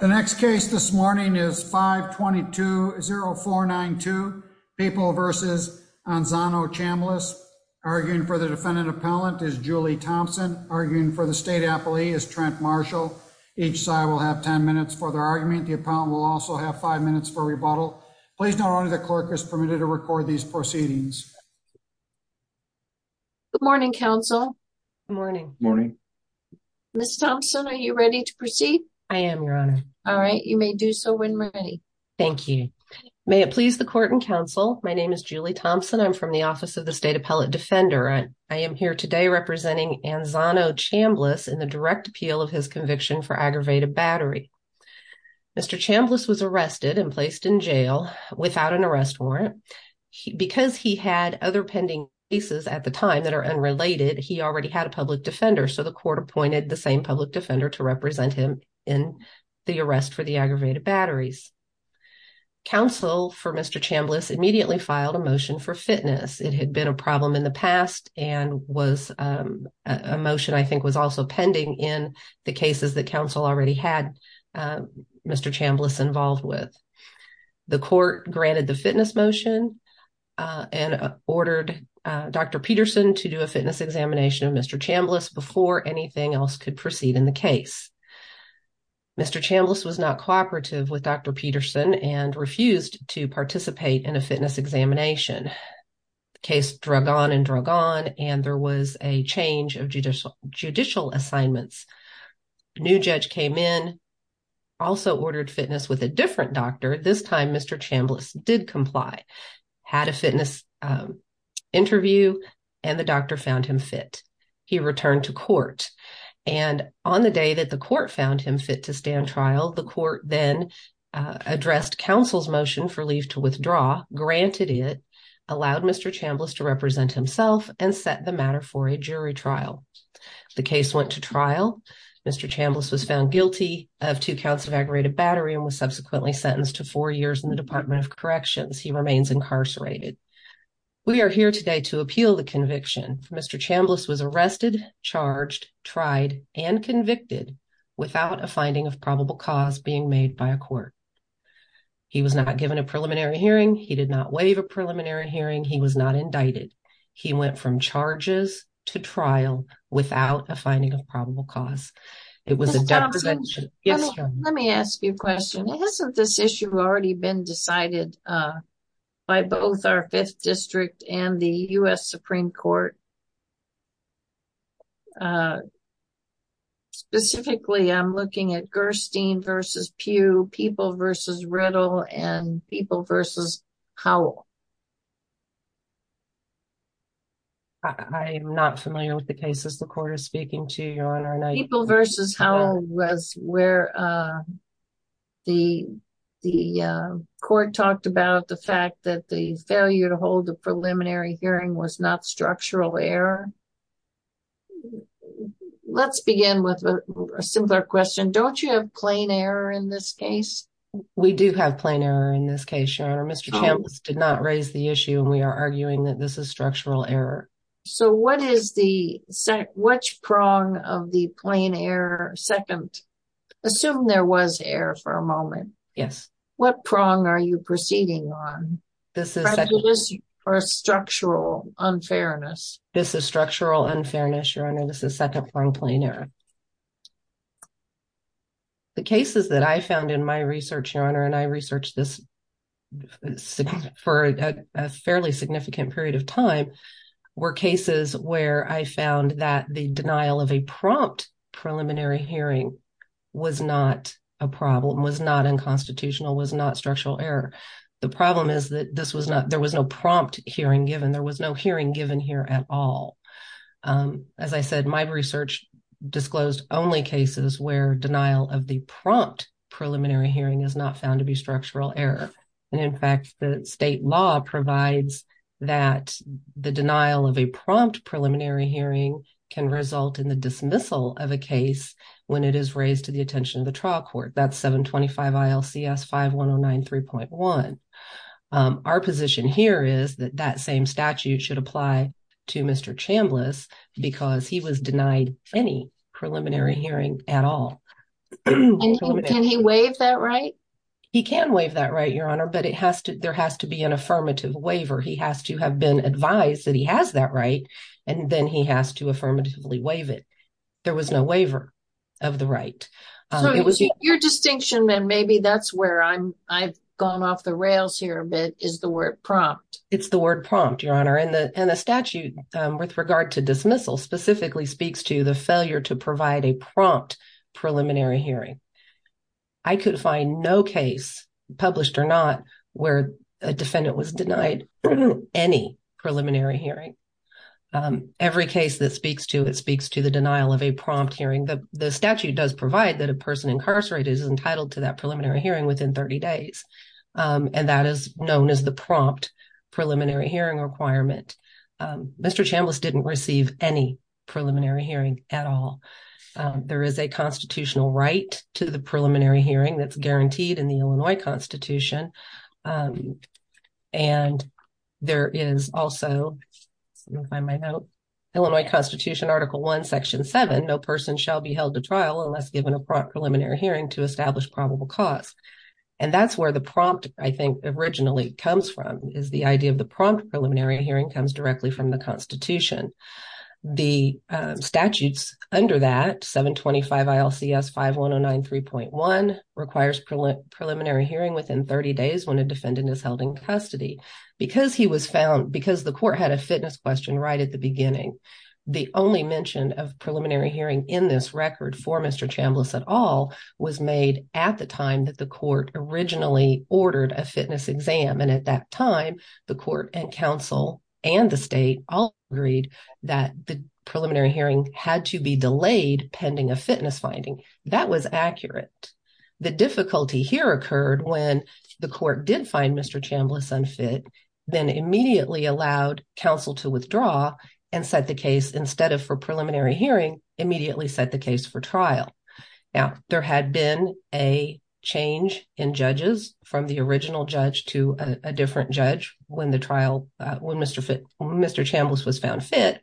The next case this morning is 522-0492, Papal v. Anzano-Chambliss. Arguing for the Defendant Appellant is Julie Thompson. Arguing for the State Appellee is Trent Marshall. Each side will have 10 minutes for their argument. The Appellant will also have 5 minutes for rebuttal. Please note only the Clerk is permitted to record these proceedings. Good morning, Counsel. Good morning. Good morning. Ms. Thompson, are you ready to proceed? I am, Your Honor. All right, you may do so when ready. Thank you. May it please the Court and Counsel, my name is Julie Thompson. I'm from the Office of the State Appellate Defender. I am here today representing Anzano-Chambliss in the direct appeal of his conviction for aggravated battery. Mr. Chambliss was arrested and placed in jail without an arrest warrant. Because he had other pending cases at the time that are unrelated, he already had a public defender. So the Court appointed the same public defender to represent him in the arrest for the aggravated batteries. Counsel for Mr. Chambliss immediately filed a motion for fitness. It had been a problem in the past and was a motion I think was also pending in the cases that Counsel already had. Mr. Chambliss involved with the Court granted the fitness motion and ordered Dr. Peterson to do a fitness examination of Mr. Chambliss before anything else could proceed in the case. Mr. Chambliss was not cooperative with Dr. Peterson and refused to participate in a fitness examination. The case drug on and drug on and there was a change of judicial assignments. A new judge came in, also ordered fitness with a different doctor. This time Mr. Chambliss did comply, had a fitness interview and the doctor found him fit. He returned to court and on the day that the court found him fit to stand trial, the court then addressed Counsel's motion for leave to withdraw, granted it, allowed Mr. Chambliss to represent himself and set the matter for a jury trial. The case went to trial. Mr. Chambliss was found guilty of two counts of aggravated battery and was subsequently sentenced to four years in the Department of Corrections. He remains incarcerated. We are here today to appeal the conviction. Mr. Chambliss was arrested, charged, tried and convicted without a finding of probable cause being made by a court. He was not given a preliminary hearing. He did not waive a preliminary hearing. He was not indicted. He went from charges to trial without a finding of probable cause. Mr. Chambliss, let me ask you a question. Hasn't this issue already been decided by both our 5th District and the U.S. Supreme Court? Specifically, I'm looking at Gerstein v. Pugh, People v. Riddle and People v. Howell. I'm not familiar with the cases the court is speaking to, Your Honor. People v. Howell was where the court talked about the fact that the failure to hold a preliminary hearing was not structural error. Let's begin with a simpler question. Don't you have plain error in this case? We do have plain error in this case, Your Honor. Mr. Chambliss did not raise the issue and we are arguing that this is structural error. So, what is the second? Which prong of the plain error second? Assume there was error for a moment. Yes. What prong are you proceeding on? This is structural unfairness. This is structural unfairness, Your Honor. This is second prong plain error. The cases that I found in my research, Your Honor, and I researched this for a fairly significant period of time, were cases where I found that the denial of a prompt preliminary hearing was not a problem, was not unconstitutional, was not structural error. The problem is that there was no prompt hearing given. There was no hearing given here at all. As I said, my research disclosed only cases where denial of the prompt preliminary hearing is not found to be structural error. And in fact, the state law provides that the denial of a prompt preliminary hearing can result in the dismissal of a case when it is raised to the attention of the trial court. That's 725 ILCS 51093.1. Our position here is that that same statute should apply to Mr. Chambliss because he was denied any preliminary hearing at all. Can he waive that right? He can waive that right, Your Honor, but there has to be an affirmative waiver. He has to have been advised that he has that right, and then he has to affirmatively waive it. There was no waiver of the right. Your distinction, and maybe that's where I've gone off the rails here a bit, is the word prompt. It's the word prompt, Your Honor, and the statute with regard to dismissal specifically speaks to the failure to provide a prompt preliminary hearing. I could find no case, published or not, where a defendant was denied any preliminary hearing. Every case that speaks to it speaks to the denial of a prompt hearing. The statute does provide that a person incarcerated is entitled to that preliminary hearing within 30 days, and that is known as the prompt preliminary hearing requirement. Mr. Chambliss didn't receive any preliminary hearing at all. There is a constitutional right to the preliminary hearing that's guaranteed in the Illinois Constitution. And there is also, let me find my note, Illinois Constitution Article 1, Section 7, no person shall be held to trial unless given a prompt preliminary hearing to establish probable cause. And that's where the prompt, I think, originally comes from, is the idea of the prompt preliminary hearing comes directly from the Constitution. The statutes under that, 725 ILCS 5109 3.1, requires preliminary hearing within 30 days when a defendant is held in custody. Because he was found, because the court had a fitness question right at the beginning, the only mention of preliminary hearing in this record for Mr. Chambliss at all was made at the time that the court originally ordered a fitness exam. And at that time, the court and counsel and the state all agreed that the preliminary hearing had to be delayed pending a fitness finding. That was accurate. The difficulty here occurred when the court did find Mr. Chambliss unfit, then immediately allowed counsel to withdraw and set the case, instead of for preliminary hearing, immediately set the case for trial. Now, there had been a change in judges from the original judge to a different judge when the trial, when Mr. Chambliss was found fit.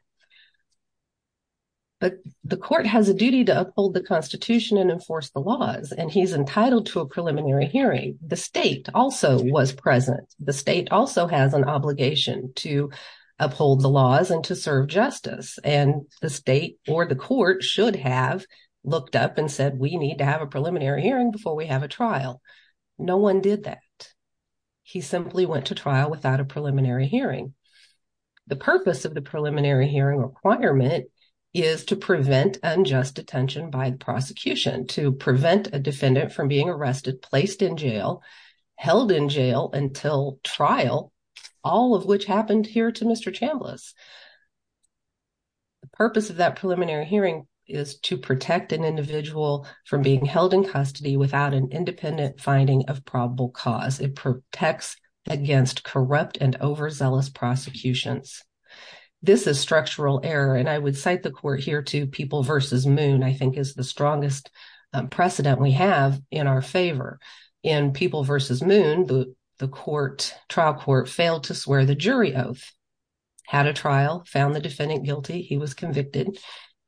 But the court has a duty to uphold the Constitution and enforce the laws, and he's entitled to a preliminary hearing. The state also was present. The state also has an obligation to uphold the laws and to serve justice. And the state or the court should have looked up and said, we need to have a preliminary hearing before we have a trial. No one did that. He simply went to trial without a preliminary hearing. The purpose of the preliminary hearing requirement is to prevent unjust detention by the prosecution, to prevent a defendant from being arrested, placed in jail, held in jail until trial, all of which happened here to Mr. Chambliss. The purpose of that preliminary hearing is to protect an individual from being held in custody without an independent finding of probable cause. It protects against corrupt and overzealous prosecutions. This is structural error, and I would cite the court here to People v. Moon, I think is the strongest precedent we have in our favor. In People v. Moon, the trial court failed to swear the jury oath, had a trial, found the defendant guilty, he was convicted.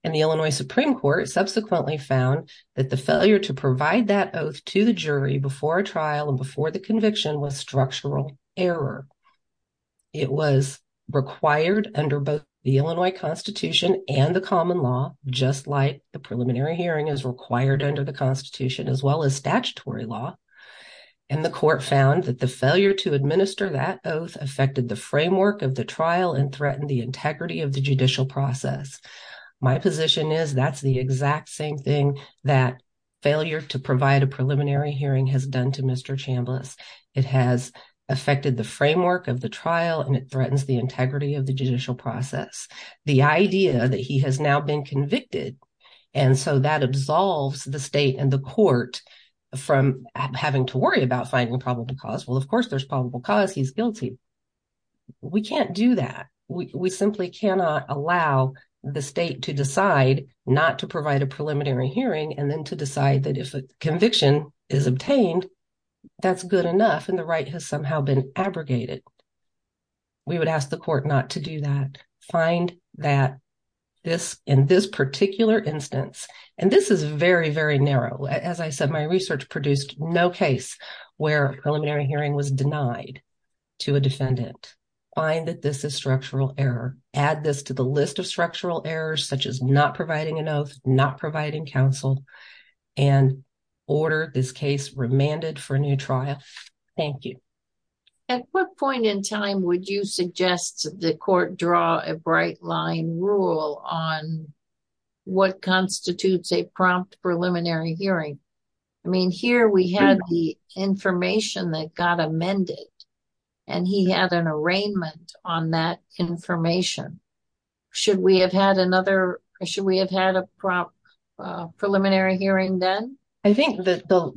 And the Illinois Supreme Court subsequently found that the failure to provide that oath to the jury before a trial and before the conviction was structural error. It was required under both the Illinois Constitution and the common law, just like the preliminary hearing is required under the Constitution as well as statutory law. And the court found that the failure to administer that oath affected the framework of the trial and threatened the integrity of the judicial process. My position is that's the exact same thing that failure to provide a preliminary hearing has done to Mr. Chambliss. It has affected the framework of the trial and it threatens the integrity of the judicial process. The idea that he has now been convicted and so that absolves the state and the court from having to worry about finding probable cause. Well, of course, there's probable cause. He's guilty. We can't do that. We simply cannot allow the state to decide not to provide a preliminary hearing and then to decide that if a conviction is obtained, that's good enough. And the right has somehow been abrogated. We would ask the court not to do that. Find that this in this particular instance, and this is very, very narrow. As I said, my research produced no case where preliminary hearing was denied to a defendant. Find that this is structural error. Add this to the list of structural errors, such as not providing an oath, not providing counsel, and order this case remanded for a new trial. Thank you. At what point in time would you suggest the court draw a bright line rule on what constitutes a prompt preliminary hearing? I mean, here we had the information that got amended and he had an arraignment on that information. Should we have had another? Should we have had a prompt preliminary hearing then? I think that the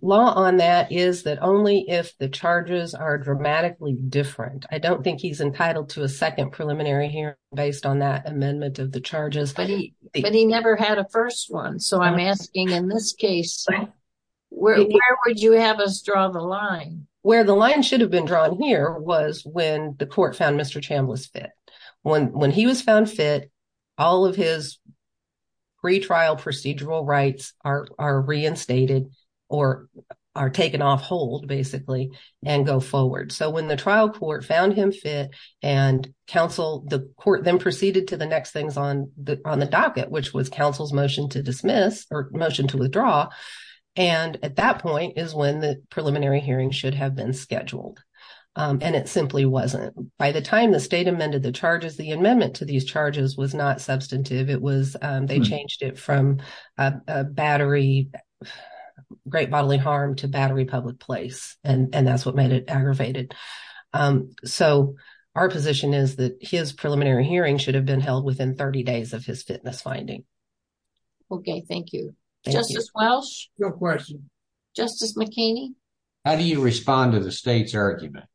law on that is that only if the charges are dramatically different. I don't think he's entitled to a second preliminary hearing based on that amendment of the charges. But he never had a first one. So, I'm asking, in this case, where would you have us draw the line? Where the line should have been drawn here was when the court found Mr. Chambliss fit. When he was found fit, all of his pretrial procedural rights are reinstated or are taken off hold, basically, and go forward. So, when the trial court found him fit and counsel, the court then proceeded to the next things on the docket, which was counsel's motion to dismiss or motion to withdraw. And at that point is when the preliminary hearing should have been scheduled. And it simply wasn't. By the time the state amended the charges, the amendment to these charges was not substantive. They changed it from battery, great bodily harm to battery public place. And that's what made it aggravated. So, our position is that his preliminary hearing should have been held within 30 days of his fitness finding. Okay, thank you. Justice Welch? Your question. Justice McKinney? How do you respond to the state's argument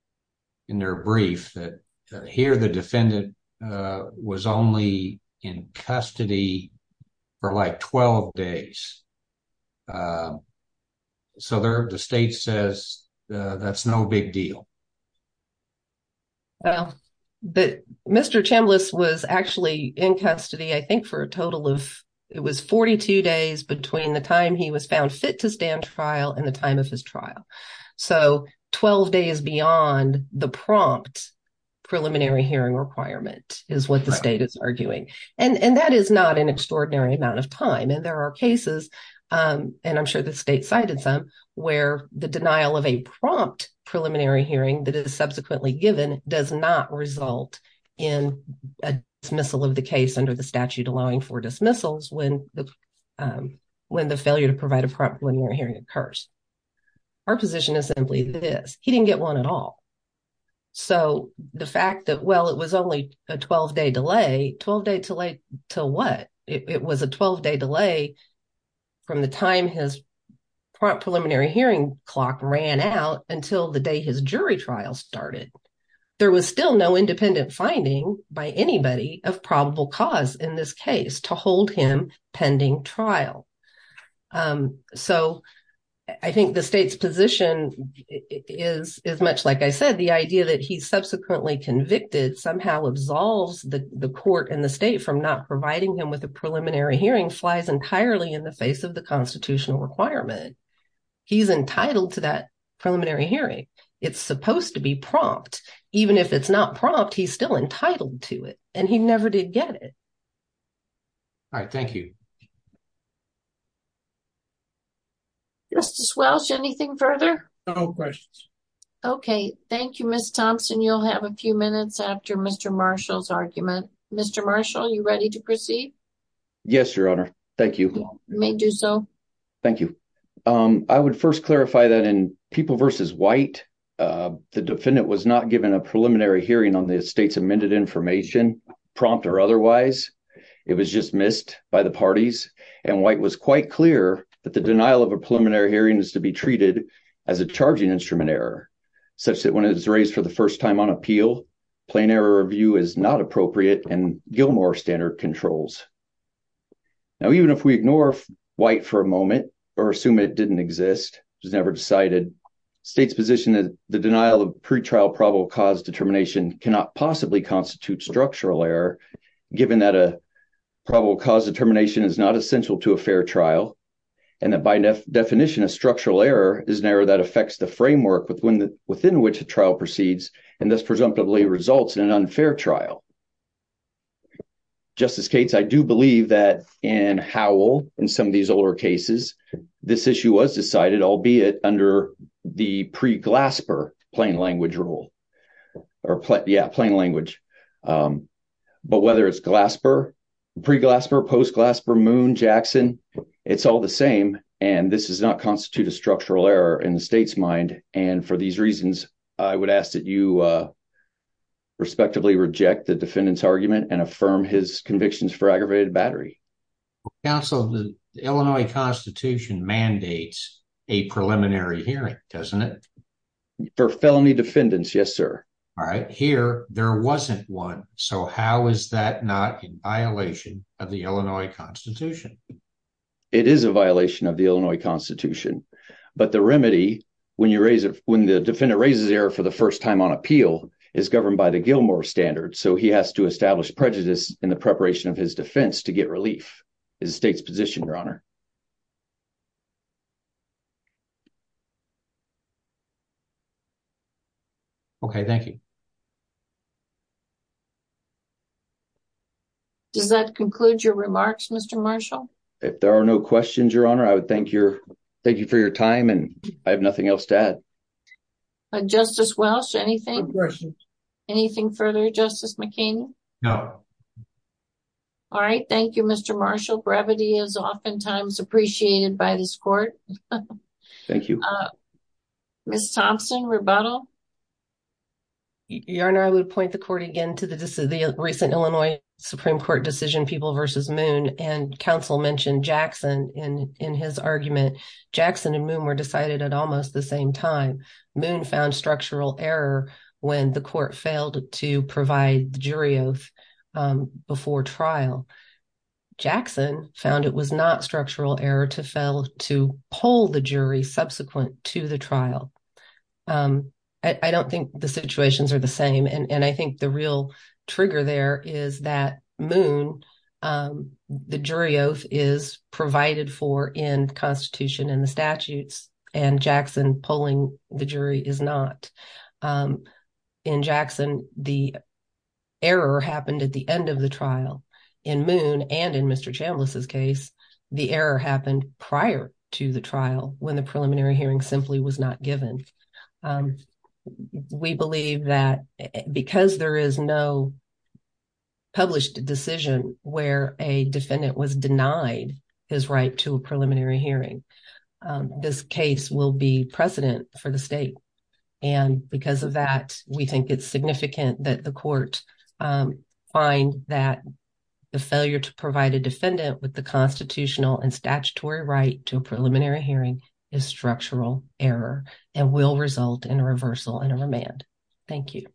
in their brief that here the defendant was only in custody for, like, 12 days? So, the state says that's no big deal. Well, Mr. Chambliss was actually in custody, I think, for a total of, it was 42 days between the time he was found fit to stand trial and the time of his trial. So, 12 days beyond the prompt preliminary hearing requirement is what the state is arguing. And that is not an extraordinary amount of time. And there are cases, and I'm sure the state cited some, where the denial of a prompt preliminary hearing that is subsequently given does not result in a dismissal of the case under the statute allowing for dismissals when the failure to provide a prompt preliminary hearing occurs. Our position is simply this. He didn't get one at all. So, the fact that, well, it was only a 12-day delay, 12-day delay to what? It was a 12-day delay from the time his prompt preliminary hearing clock ran out until the day his jury trial started. There was still no independent finding by anybody of probable cause in this case to hold him pending trial. So, I think the state's position is much like I said, the idea that he's subsequently convicted somehow absolves the court and the state from not providing him with a preliminary hearing flies entirely in the face of the constitutional requirement. He's entitled to that preliminary hearing. It's supposed to be prompt. Even if it's not prompt, he's still entitled to it. And he never did get it. All right, thank you. Justice Welch, anything further? No questions. Okay, thank you, Ms. Thompson. You'll have a few minutes after Mr. Marshall's argument. Mr. Marshall, are you ready to proceed? Yes, Your Honor. Thank you. You may do so. Thank you. I would first clarify that in People v. White, the defendant was not given a preliminary hearing on the state's amended information, prompt or otherwise. It was just missed by the parties, and White was quite clear that the denial of a preliminary hearing is to be treated as a charging instrument error, such that when it is raised for the first time on appeal, plain error review is not appropriate and Gilmore standard controls. Now, even if we ignore White for a moment, or assume it didn't exist, it was never decided, the state's position that the denial of pretrial probable cause determination cannot possibly constitute structural error, given that a probable cause determination is not essential to a fair trial, and that by definition, a structural error is an error that affects the framework within which the trial proceeds, and thus presumptively results in an unfair trial. Justice Cates, I do believe that in Howell, in some of these older cases, this issue was decided, albeit under the pre-Glasper plain language rule. Yeah, plain language. But whether it's Glasper, pre-Glasper, post-Glasper, Moon, Jackson, it's all the same, and this does not constitute a structural error in the state's mind, and for these reasons, I would ask that you respectively reject the defendant's argument and affirm his convictions for aggravated battery. Counsel, the Illinois Constitution mandates a preliminary hearing, doesn't it? For felony defendants, yes, sir. All right, here, there wasn't one, so how is that not in violation of the Illinois Constitution? It is a violation of the Illinois Constitution, but the remedy, when the defendant raises error for the first time on appeal, is governed by the Gilmore standard, so he has to establish prejudice in the preparation of his defense to get relief. It's the state's position, Your Honor. Okay, thank you. Does that conclude your remarks, Mr. Marshall? If there are no questions, Your Honor, I would thank you for your time, and I have nothing else to add. Justice Welsh, anything? No questions. Anything further, Justice McCain? No. All right, thank you, Mr. Marshall. Brevity is oftentimes appreciated by this court. Thank you. Ms. Thompson, rebuttal? Your Honor, I would point the court again to the recent Illinois Supreme Court decision, People v. Moon, and counsel mentioned Jackson in his argument. Jackson and Moon were decided at almost the same time. Moon found structural error when the court failed to provide the jury oath before trial. Jackson found it was not structural error to fail to pull the jury subsequent to the trial. I don't think the situations are the same, and I think the real trigger there is that Moon, the jury oath is provided for in Constitution and the statutes, and Jackson pulling the jury is not. In Jackson, the error happened at the end of the trial. In Moon and in Mr. Chambliss' case, the error happened prior to the trial when the preliminary hearing simply was not given. We believe that because there is no published decision where a defendant was denied his right to a preliminary hearing, this case will be precedent for the state. And because of that, we think it's significant that the court find that the failure to provide a defendant with the constitutional and statutory right to a preliminary hearing is structural error and will result in a reversal and a remand. Thank you.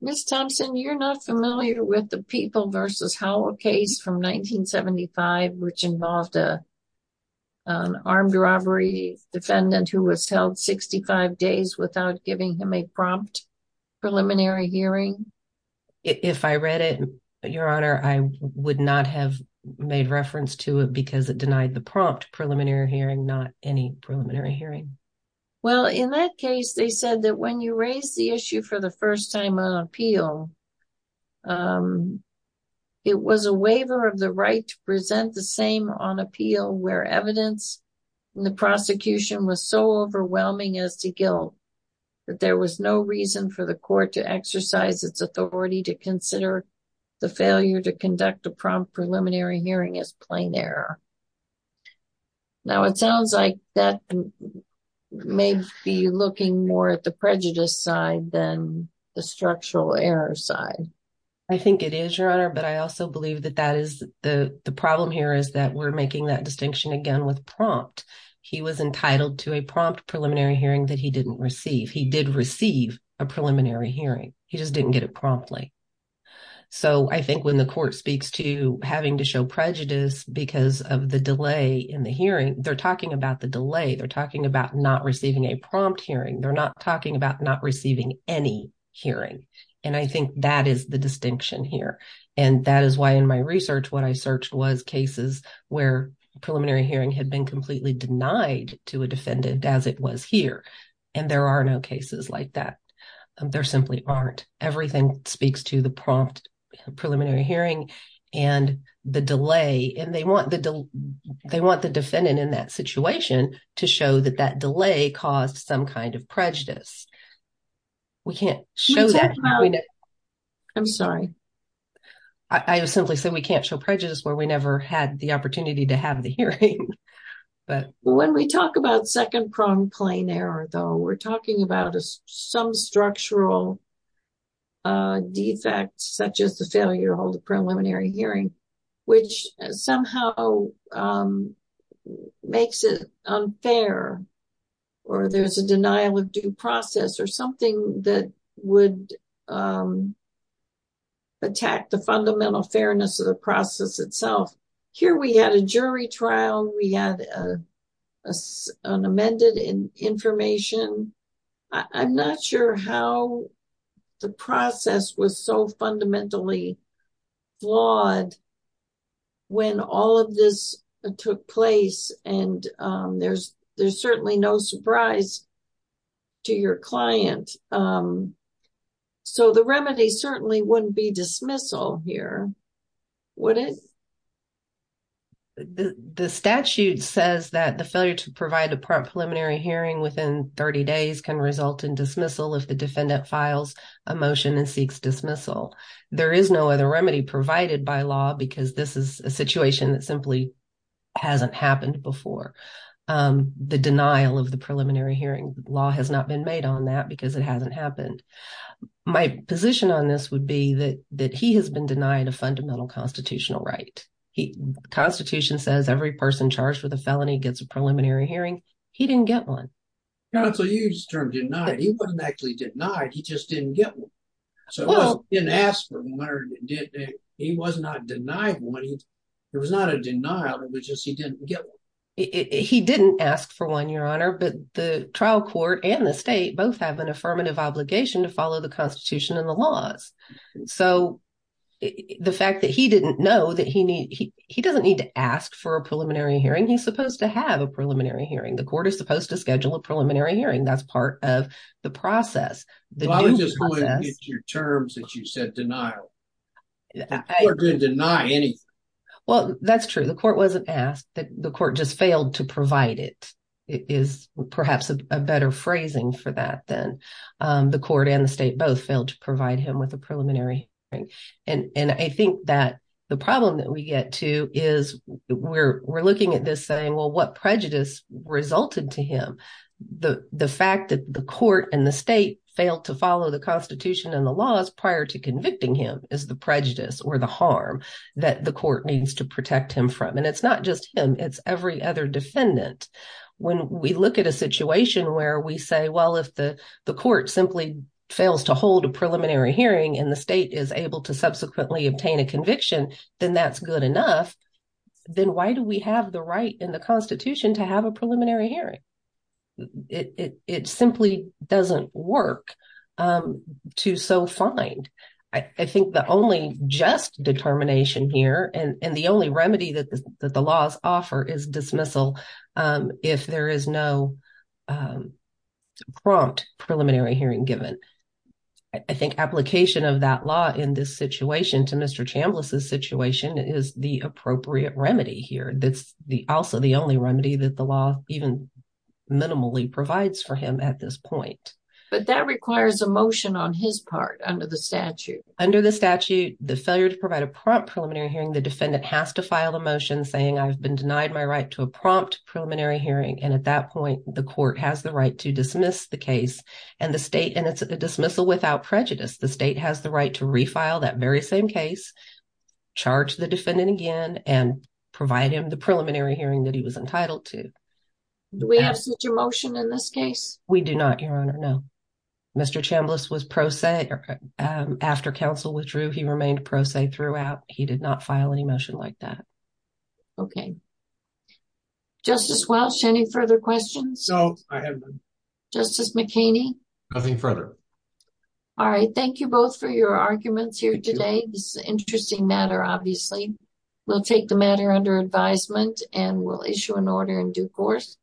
Ms. Thompson, you're not familiar with the People v. Howell case from 1975, which involved an armed robbery defendant who was held 65 days without giving him a prompt preliminary hearing? If I read it, Your Honor, I would not have made reference to it because it denied the prompt preliminary hearing, not any preliminary hearing. Well, in that case, they said that when you raise the issue for the first time on appeal, it was a waiver of the right to present the same on appeal where evidence in the prosecution was so overwhelming as to guilt that there was no reason for the court to exercise its authority to consider the failure to conduct a prompt preliminary hearing as plain error. Now, it sounds like that may be looking more at the prejudice side than the structural error side. I think it is, Your Honor, but I also believe that that is the problem here is that we're making that distinction again with prompt. He was entitled to a prompt preliminary hearing that he didn't receive. He did receive a preliminary hearing. He just didn't get it promptly. So I think when the court speaks to having to show prejudice because of the delay in the hearing, they're talking about the delay. They're talking about not receiving a prompt hearing. They're not talking about not receiving any hearing. And I think that is the distinction here. And that is why in my research, what I searched was cases where preliminary hearing had been completely denied to a defendant as it was here. And there are no cases like that. There simply aren't. Everything speaks to the prompt preliminary hearing and the delay. And they want the defendant in that situation to show that that delay caused some kind of prejudice. We can't show that. I'm sorry. I simply said we can't show prejudice where we never had the opportunity to have the hearing. When we talk about second-pronged plain error, though, we're talking about some structural defects such as the failure to hold a preliminary hearing, which somehow makes it unfair or there's a denial of due process or something that would attack the fundamental fairness of the process itself. Here we had a jury trial. We had an amended information. I'm not sure how the process was so fundamentally flawed when all of this took place. And there's certainly no surprise to your client. So the remedy certainly wouldn't be dismissal here, would it? The statute says that the failure to provide a prompt preliminary hearing within 30 days can result in dismissal if the defendant files a motion and seeks dismissal. There is no other remedy provided by law because this is a situation that simply hasn't happened before. The denial of the preliminary hearing law has not been made on that because it hasn't happened. My position on this would be that he has been denied a fundamental constitutional right. The Constitution says every person charged with a felony gets a preliminary hearing. He didn't get one. Counsel, you used the term denied. He wasn't actually denied. He just didn't get one. He didn't ask for one. He was not denied one. There was not a denial. It was just he didn't get one. He didn't ask for one, Your Honor, but the trial court and the state both have an affirmative obligation to follow the Constitution and the laws. So the fact that he didn't know that he doesn't need to ask for a preliminary hearing, he's supposed to have a preliminary hearing. The court is supposed to schedule a preliminary hearing. That's part of the process. I was just going to get to your terms that you said denial. The court didn't deny anything. Well, that's true. The court wasn't asked. The court just failed to provide it. It is perhaps a better phrasing for that than the court and the state both failed to provide him with a preliminary hearing. And I think that the problem that we get to is we're looking at this saying, well, what prejudice resulted to him? The fact that the court and the state failed to follow the Constitution and the laws prior to convicting him is the prejudice or the harm that the court needs to protect him from. And it's not just him. It's every other defendant. When we look at a situation where we say, well, if the court simply fails to hold a preliminary hearing and the state is able to subsequently obtain a conviction, then that's good enough. Then why do we have the right in the Constitution to have a preliminary hearing? It simply doesn't work to so find. I think the only just determination here and the only remedy that the laws offer is dismissal if there is no prompt preliminary hearing given. I think application of that law in this situation to Mr. Chambliss' situation is the appropriate remedy here. That's also the only remedy that the law even minimally provides for him at this point. But that requires a motion on his part under the statute. Under the statute, the failure to provide a prompt preliminary hearing, the defendant has to file a motion saying I've been denied my right to a prompt preliminary hearing. And at that point, the court has the right to dismiss the case and the state. And it's a dismissal without prejudice. The state has the right to refile that very same case, charge the defendant again and provide him the preliminary hearing that he was entitled to. Do we have such a motion in this case? We do not, Your Honor. No. Mr. Chambliss was pro se after counsel withdrew. He remained pro se throughout. He did not file any motion like that. Okay. Justice Welch, any further questions? No, I have none. Justice McKinney? Nothing further. All right. Thank you both for your arguments here today. This is an interesting matter, obviously. We'll take the matter under advisement and we'll issue an order in due course.